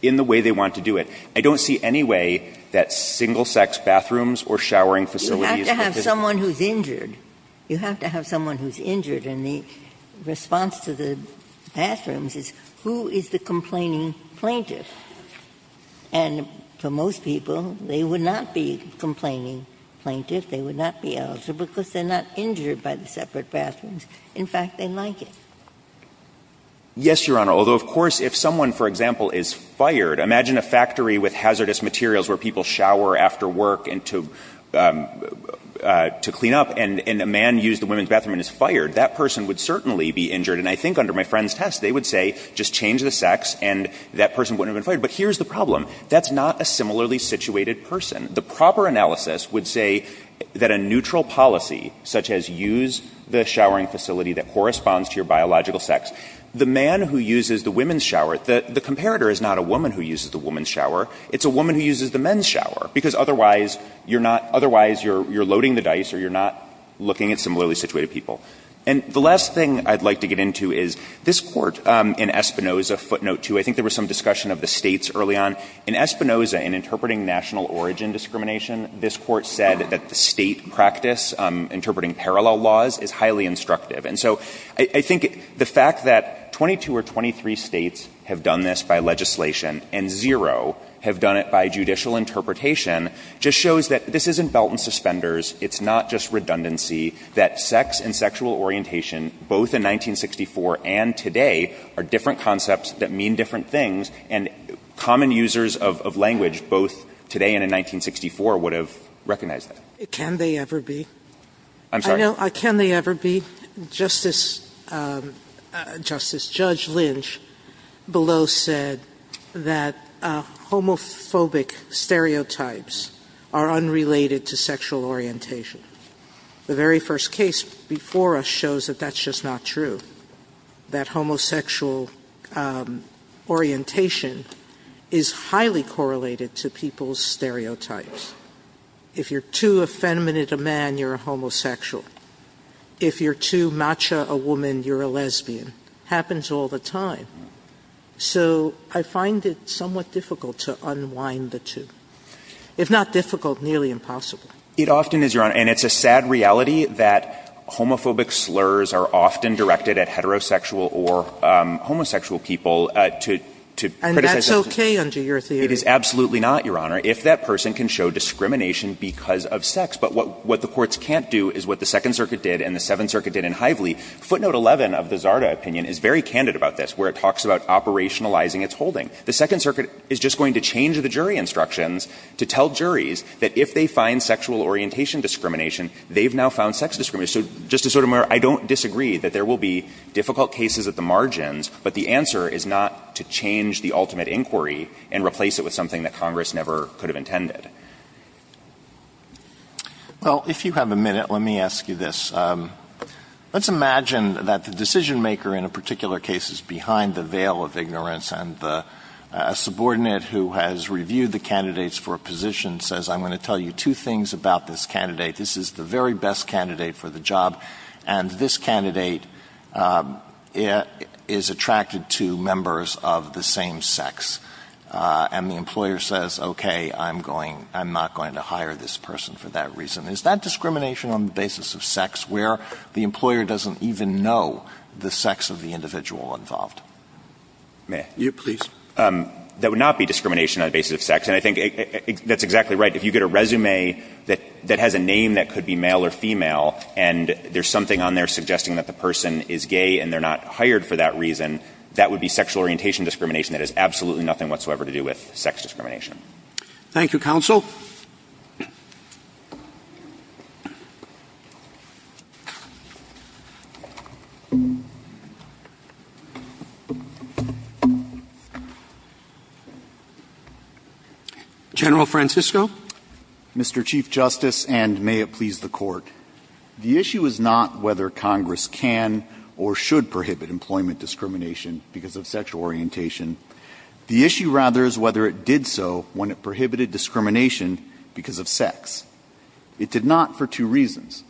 in the way they want to do it, I don't see any way that single-sex bathrooms or showering facilities or fitness — Ginsburg. You have to have someone who's injured. You have to have someone who's injured. And the response to the bathrooms is, who is the complaining plaintiff? And for most people, they would not be complaining plaintiff. They would not be ill because they're not injured by the separate bathrooms. In fact, they like it. Yes, Your Honor. Although, of course, if someone, for example, is fired, imagine a factory with hazardous materials where people shower after work and to — to clean up, and a man used the women's bathroom and is fired. That person would certainly be injured. And I think under my friend's test, they would say, just change the sex, and that person wouldn't have been fired. But here's the problem. That's not a similarly situated person. The proper analysis would say that a neutral policy, such as use the showering facility that corresponds to your biological sex, the man who uses the women's shower, the comparator is not a woman who uses the women's shower. It's a woman who uses the men's shower, because otherwise you're not — otherwise you're loading the dice or you're not looking at similarly situated people. And the last thing I'd like to get into is this Court in Espinoza, footnote 2. I think there was some discussion of the States early on. In Espinoza, in interpreting national origin discrimination, this Court said that the State practice, interpreting parallel laws, is highly instructive. And so I — I think the fact that 22 or 23 States have done this by legislation and zero have done it by judicial interpretation just shows that this isn't belt and suspenders. It's not just redundancy, that sex and sexual orientation, both in 1964 and today, are different concepts that mean different things, and common users of language, both today and in 1964, would have recognized that. Sotomayor Can they ever be? I'm sorry? Sotomayor Can they ever be? Justice — Justice, Judge Lynch below said that homophobic stereotypes are unrelated to sexual orientation. The very first case before us shows that that's just not true, that homosexual orientation is highly correlated to people's stereotypes. If you're too effeminate a man, you're a homosexual. If you're too matcha a woman, you're a lesbian. Happens all the time. So I find it somewhat difficult to unwind the two. If not difficult, nearly impossible. It often is, Your Honor, and it's a sad reality that homophobic slurs are often directed at heterosexual or homosexual people to — And that's okay under your theory. It is absolutely not, Your Honor, if that person can show discrimination because of sex. But what the courts can't do is what the Second Circuit did and the Seventh Circuit did in Hively. Footnote 11 of the Zarda opinion is very candid about this, where it talks about operationalizing its holding. The Second Circuit is just going to change the jury instructions to tell juries that if they find sexual orientation discrimination, they've now found sex discrimination. So, Justice Sotomayor, I don't disagree that there will be difficult cases at the margins, but the answer is not to change the ultimate inquiry and replace it with something that Congress never could have intended. Well, if you have a minute, let me ask you this. Let's imagine that the decisionmaker in a particular case is behind the veil of ignorance and a subordinate who has reviewed the candidates for a position says, I'm going to tell you two things about this candidate. This is the very best candidate for the job, and this candidate is attracted to members of the same sex. And the employer says, okay, I'm going — I'm not going to hire this person for that reason. Is that discrimination on the basis of sex, where the employer doesn't even know the sex of the individual involved? May I? Yes, please. That would not be discrimination on the basis of sex. And I think that's exactly right. If you get a resume that has a name that could be male or female and there's something on there suggesting that the person is gay and they're not hired for that reason, that would be sexual orientation discrimination that has absolutely nothing whatsoever to do with sex discrimination. Thank you, counsel. General Francisco. Mr. Chief Justice, and may it please the Court. The issue is not whether Congress can or should prohibit employment discrimination because of sexual orientation. The issue, rather, is whether it did so when it prohibited discrimination because of sex. It did not for two reasons.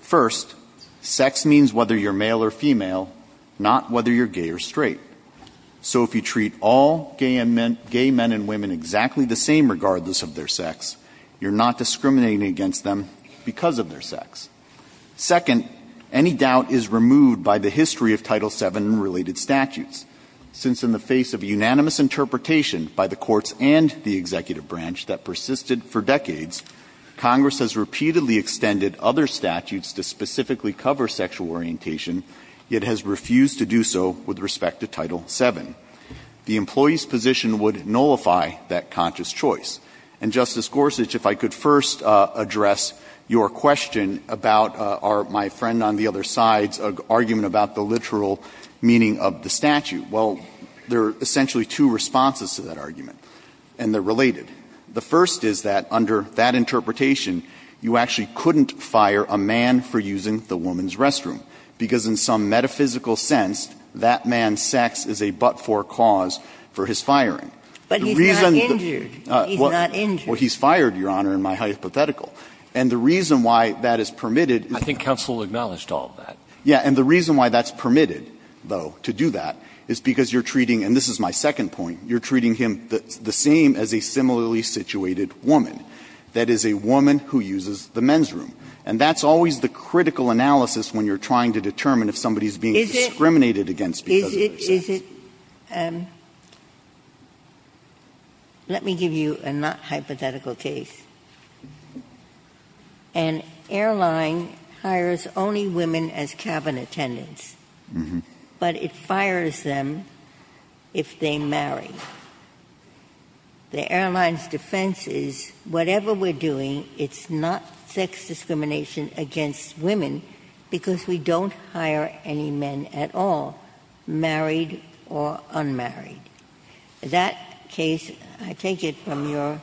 First, sex means whether you're male or female, not whether you're gay or straight. So if you treat all gay men and women exactly the same regardless of their sex, you're not discriminating against them because of their sex. Second, any doubt is removed by the history of Title VII and related statutes, since in the face of unanimous interpretation by the courts and the executive branch that persisted for decades, Congress has repeatedly extended other statutes to specifically cover sexual orientation, yet has refused to do so with respect to Title VII. The employee's position would nullify that conscious choice. And, Justice Gorsuch, if I could first address your question about my friend on the other side's argument about the literal meaning of the statute. Well, there are essentially two responses to that argument, and they're related. The first is that under that interpretation, you actually couldn't fire a man for using the woman's restroom, because in some metaphysical sense, that man's sex is a but-for cause for his firing. The reason that the reason that the reason that the reason that the reason that the Yeah, and the reason why that's permitted, though, to do that is because you're treating, and this is my second point, you're treating him the same as a similarly situated woman, that is, a woman who uses the men's room. And that's always the critical analysis when you're trying to determine if somebody The airline's defense is, whatever we're doing, it's not sex discrimination against women, because we don't hire any men at all. So that's a great point. is not sex discrimination, the gentleman is not married or unmarried. In that case, I take it from your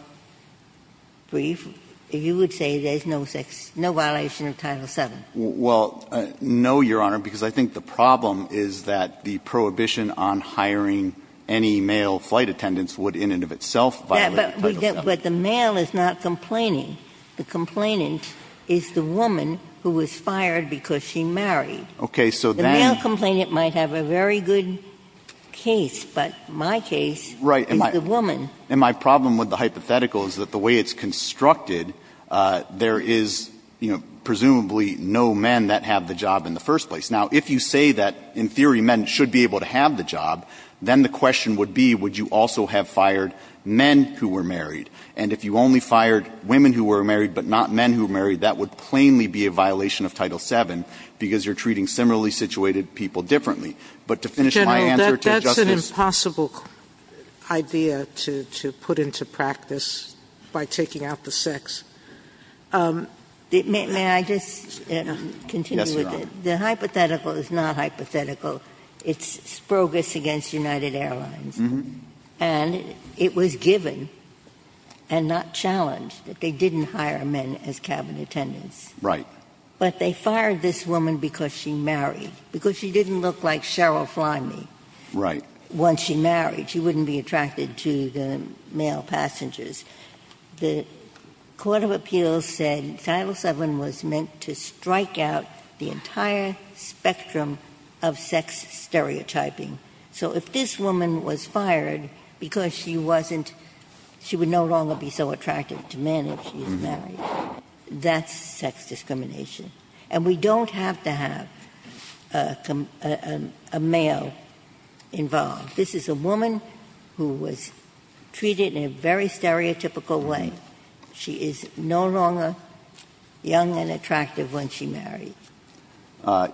brief, you would say there's no violation of Title VII. Well, no, Your Honor, because I think the problem is that the prohibition on hiring any male flight attendants would in and of itself violate Title VII. But the male is not complaining. The complainant is the woman who was fired because she married. Okay. So then the male complainant might have a very good case, but my case is the woman. Right. And my problem with the hypothetical is that the way it's constructed, there is, you know, presumably no men that have the job in the first place. Now, if you say that, in theory, men should be able to have the job, then the question would be would you also have fired men who were married. And if you only fired women who were married but not men who were married, that would plainly be a violation of Title VII because you're treating similarly situated people differently. But to finish my answer to Justice Sotomayor. That's an impossible idea to put into practice by taking out the sex. May I just continue with it? Yes, Your Honor. The hypothetical is not hypothetical. It's Sprogas against United Airlines. And it was given and not challenged that they didn't hire men as cabin attendants. Right. But they fired this woman because she married. Because she didn't look like Cheryl Fleming. Right. Once she married, she wouldn't be attracted to the male passengers. The Court of Appeals said Title VII was meant to strike out the entire spectrum of sex stereotyping. So if this woman was fired because she wasn't, she would no longer be so attractive to men if she was married. That's sex discrimination. And we don't have to have a male involved. This is a woman who was treated in a very stereotypical way. She is no longer young and attractive when she married.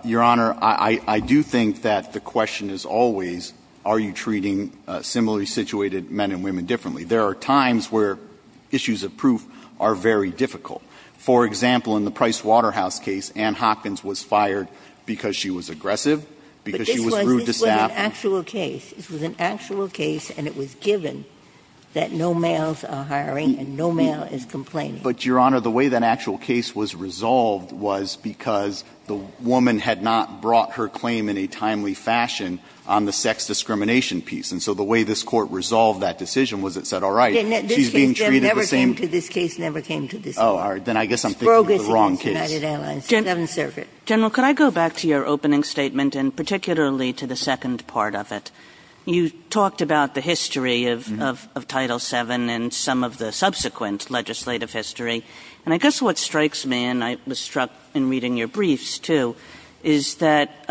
Your Honor, I do think that the question is always are you treating similarly situated men and women differently. There are times where issues of proof are very difficult. For example, in the Price Waterhouse case, Ann Hopkins was fired because she was aggressive, because she was rude to staff. But this was an actual case. This was an actual case, and it was given that no males are hiring and no male is complaining. But, Your Honor, the way that actual case was resolved was because the woman had not brought her claim in a timely fashion on the sex discrimination piece. And so the way this Court resolved that decision was it said, all right, she's being treated the same. This case never came to this case, never came to this case. Oh, all right. Then I guess I'm thinking of the wrong case. Sprogas v. United Airlines, Seventh Circuit. General, could I go back to your opening statement, and particularly to the second part of it? You talked about the history of Title VII and some of the subsequent legislative history. And I guess what strikes me, and I was struck in reading your briefs, too, is that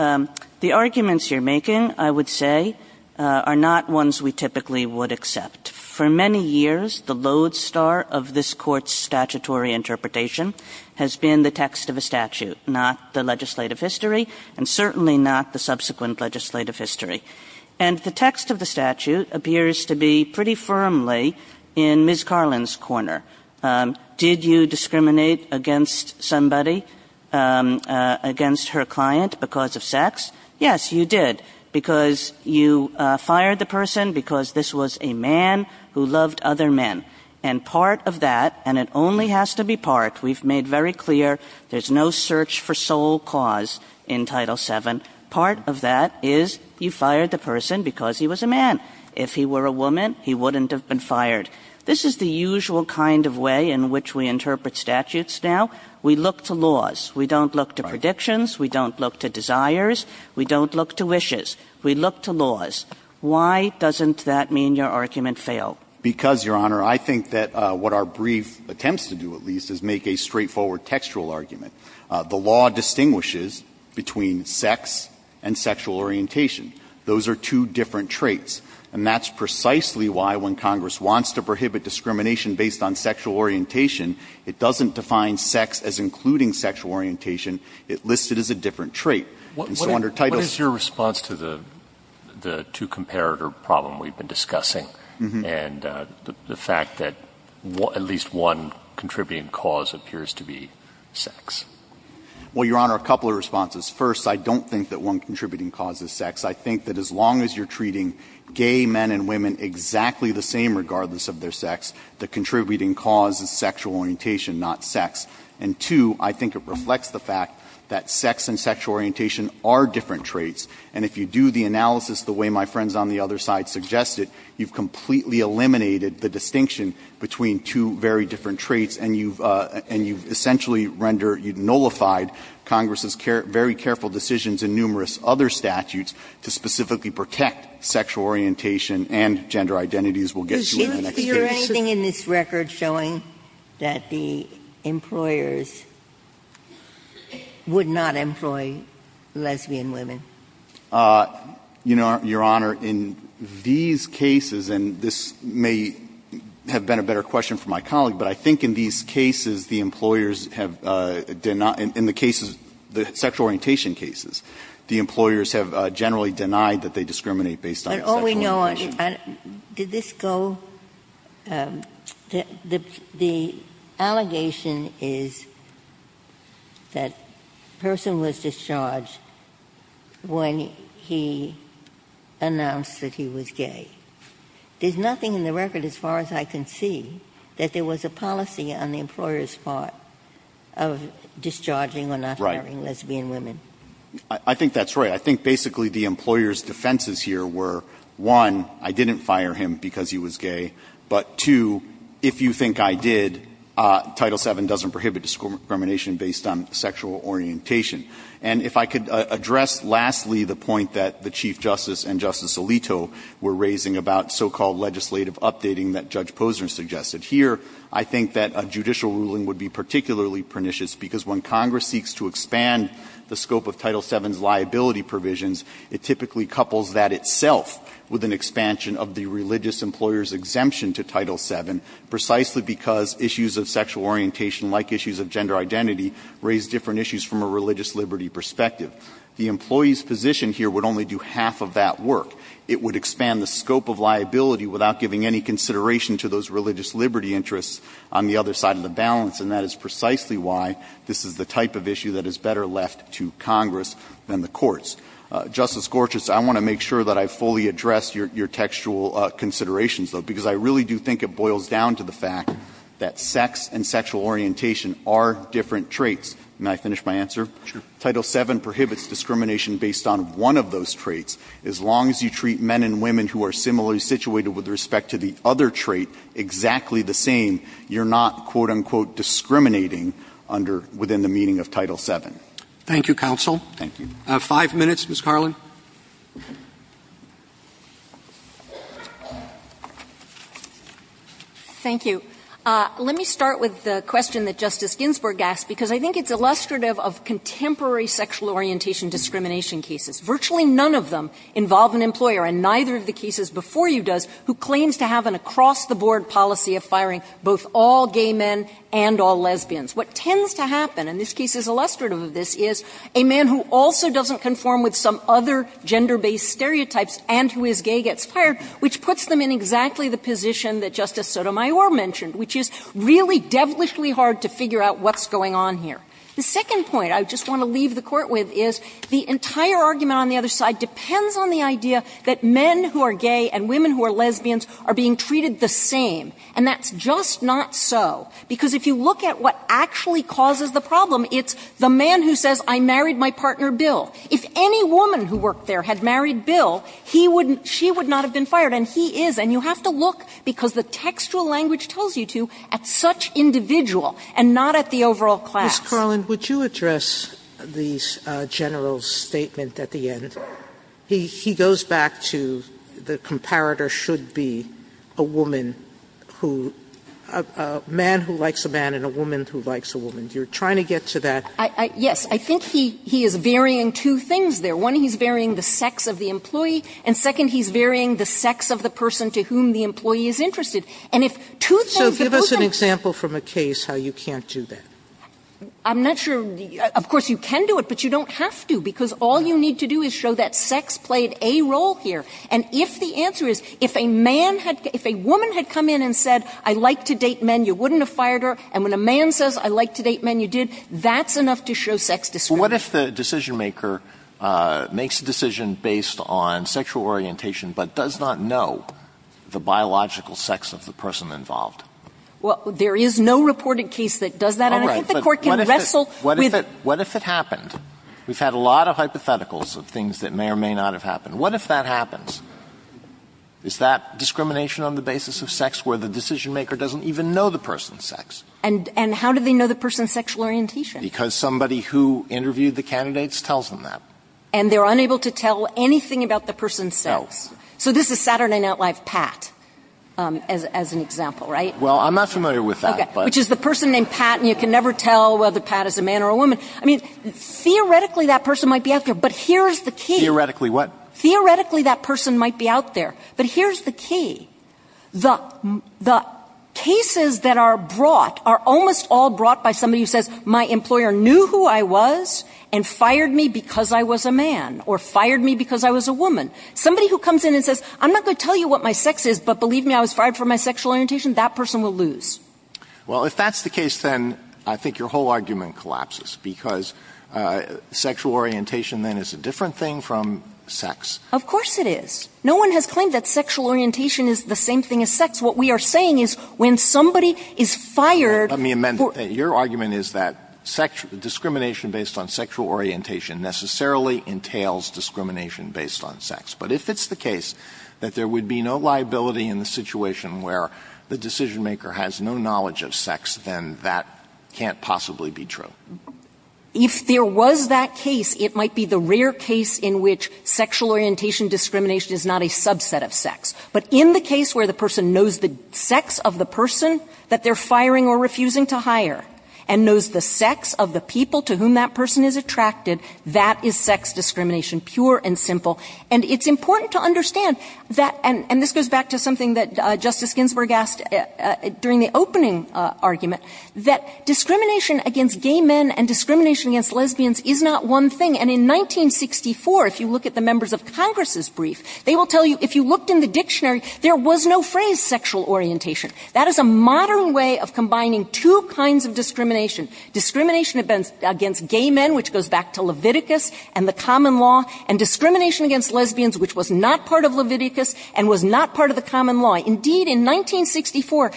the arguments you're making, I would say, are not ones we typically would accept. For many years, the lodestar of this Court's statutory interpretation has been the text of a statute, not the legislative history, and certainly not the subsequent legislative history. And the text of the statute appears to be pretty firmly in Ms. Carlin's corner. Did you discriminate against somebody, against her client because of sex? Yes, you did, because you fired the person because this was a man who loved other men. And part of that, and it only has to be part, we've made very clear there's no search for sole cause in Title VII. Part of that is you fired the person because he was a man. If he were a woman, he wouldn't have been fired. This is the usual kind of way in which we interpret statutes now. We look to laws. We don't look to predictions. We don't look to desires. We don't look to wishes. We look to laws. Why doesn't that mean your argument failed? Because, Your Honor, I think that what our brief attempts to do, at least, is make a straightforward textual argument. The law distinguishes between sex and sexual orientation. Those are two different traits. And that's precisely why when Congress wants to prohibit discrimination based on sexual orientation, it doesn't define sex as including sexual orientation. It lists it as a different trait. And so under Title VII. The two-comparator problem we've been discussing and the fact that at least one contributing cause appears to be sex. Well, Your Honor, a couple of responses. First, I don't think that one contributing cause is sex. I think that as long as you're treating gay men and women exactly the same regardless of their sex, the contributing cause is sexual orientation, not sex. And, two, I think it reflects the fact that sex and sexual orientation are different traits, and if you do the analysis the way my friends on the other side suggested, you've completely eliminated the distinction between two very different traits. And you've essentially rendered, you've nullified Congress's very careful decisions in numerous other statutes to specifically protect sexual orientation and gender identities. We'll get to that in the next case. Ginsburg. Is there anything in this record showing that the employers would not employ lesbian women? You know, Your Honor, in these cases, and this may have been a better question for my colleague, but I think in these cases, the employers have denied the cases, the sexual orientation cases, the employers have generally denied that they discriminate based on sexual orientation. Ginsburg. Did this go? The allegation is that the person was discharged when he announced that he was gay. There's nothing in the record, as far as I can see, that there was a policy on the employer's part of discharging or not hiring lesbian women. Right. I think that's right. I think basically the employer's defenses here were, one, I didn't fire him because he was gay, but, two, if you think I did, Title VII doesn't prohibit discrimination based on sexual orientation. And if I could address, lastly, the point that the Chief Justice and Justice Alito were raising about so-called legislative updating that Judge Posner suggested here, I think that a judicial ruling would be particularly pernicious, because when Congress seeks to expand the scope of Title VII's liability provisions, it typically couples that itself with an expansion of the religious employer's exemption to Title VII, precisely because issues of sexual orientation, like issues of gender identity, raise different issues from a religious liberty perspective. The employee's position here would only do half of that work. It would expand the scope of liability without giving any consideration to those that is better left to Congress than the courts. Justice Gortz, I want to make sure that I fully address your textual considerations though, because I really do think it boils down to the fact that sex and sexual orientation are different traits. May I finish my answer? Sure. Title VII prohibits discrimination based on one of those traits. As long as you treat men and women who are similarly situated with respect to the other trait exactly the same, you're not, quote, unquote, discriminating under, within the meaning of Title VII. Thank you, counsel. Thank you. Five minutes, Ms. Carlin. Thank you. Let me start with the question that Justice Ginsburg asked, because I think it's illustrative of contemporary sexual orientation discrimination cases. Virtually none of them involve an employer, and neither of the cases before you does who claims to have an across-the-board policy of firing both all gay men and all lesbians. What tends to happen, and this case is illustrative of this, is a man who also doesn't conform with some other gender-based stereotypes and who is gay gets fired, which puts them in exactly the position that Justice Sotomayor mentioned, which is really devilishly hard to figure out what's going on here. The second point I just want to leave the Court with is the entire argument on the other side depends on the idea that men who are gay and women who are lesbians are being treated the same, and that's just not so, because if you look at what actually causes the problem, it's the man who says, I married my partner, Bill. If any woman who worked there had married Bill, he would not been fired, and he is. And you have to look, because the textual language tells you to, at such individual and not at the overall class. Sotomayor, Ms. Carlin, would you address the General's statement at the end? He goes back to the comparator should be a woman who – a man who likes a man and a woman who likes a woman. You're trying to get to that. Yes. I think he is varying two things there. One, he's varying the sex of the employee, and second, he's varying the sex of the person to whom the employee is interested. And if two things, the person – So give us an example from a case how you can't do that. I'm not sure – of course, you can do it, but you don't have to, because all you need to do is show that sex played a role here. And if the answer is, if a man had – if a woman had come in and said, I like to date men, you wouldn't have fired her, and when a man says, I like to date men, you did, that's enough to show sex discrimination. Well, what if the decisionmaker makes a decision based on sexual orientation but does not know the biological sex of the person involved? Well, there is no reported case that does that, and I think the Court can wrestle with – All right. But what if it happened? We've had a lot of hypotheticals of things that may or may not have happened. What if that happens? Is that discrimination on the basis of sex where the decisionmaker doesn't even know the person's sex? And how do they know the person's sexual orientation? Because somebody who interviewed the candidates tells them that. And they're unable to tell anything about the person's sex. No. So this is Saturday Night Live Pat as an example, right? Well, I'm not familiar with that. Okay. Which is the person named Pat, and you can never tell whether Pat is a man or a woman. I mean, theoretically that person might be out there. But here's the key. Theoretically what? Theoretically that person might be out there. But here's the key. The cases that are brought are almost all brought by somebody who says, my employer knew who I was and fired me because I was a man, or fired me because I was a woman. Somebody who comes in and says, I'm not going to tell you what my sex is, but believe me, I was fired for my sexual orientation, that person will lose. Well, if that's the case, then I think your whole argument collapses. Because sexual orientation, then, is a different thing from sex. Of course it is. No one has claimed that sexual orientation is the same thing as sex. What we are saying is when somebody is fired for – Let me amend that. Your argument is that discrimination based on sexual orientation necessarily entails discrimination based on sex. But if it's the case that there would be no liability in the situation where the decision maker has no knowledge of sex, then that can't possibly be true. If there was that case, it might be the rare case in which sexual orientation discrimination is not a subset of sex. But in the case where the person knows the sex of the person that they're firing or refusing to hire, and knows the sex of the people to whom that person is attracted, that is sex discrimination, pure and simple. And it's important to understand that – and this goes back to something that Justice Ginsburg asked during the opening argument – that discrimination against gay men and discrimination against lesbians is not one thing. And in 1964, if you look at the members of Congress' brief, they will tell you if you looked in the dictionary, there was no phrase sexual orientation. That is a modern way of combining two kinds of discrimination. Discrimination against gay men, which goes back to Leviticus and the common law, and discrimination against lesbians, which was not part of Leviticus and was not part of the common law. Indeed, in 1964,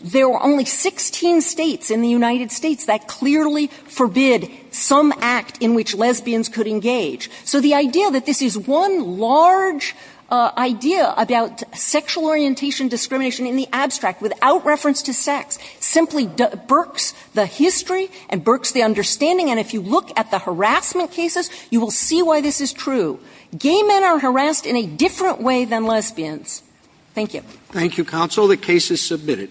there were only 16 states in the United States that clearly forbid some act in which lesbians could engage. So the idea that this is one large idea about sexual orientation discrimination in the abstract without reference to sex simply birks the history and birks the understanding. And if you look at the harassment cases, you will see why this is true. Gay men are harassed in a different way than lesbians. Thank you. Thank you, counsel. The case is submitted.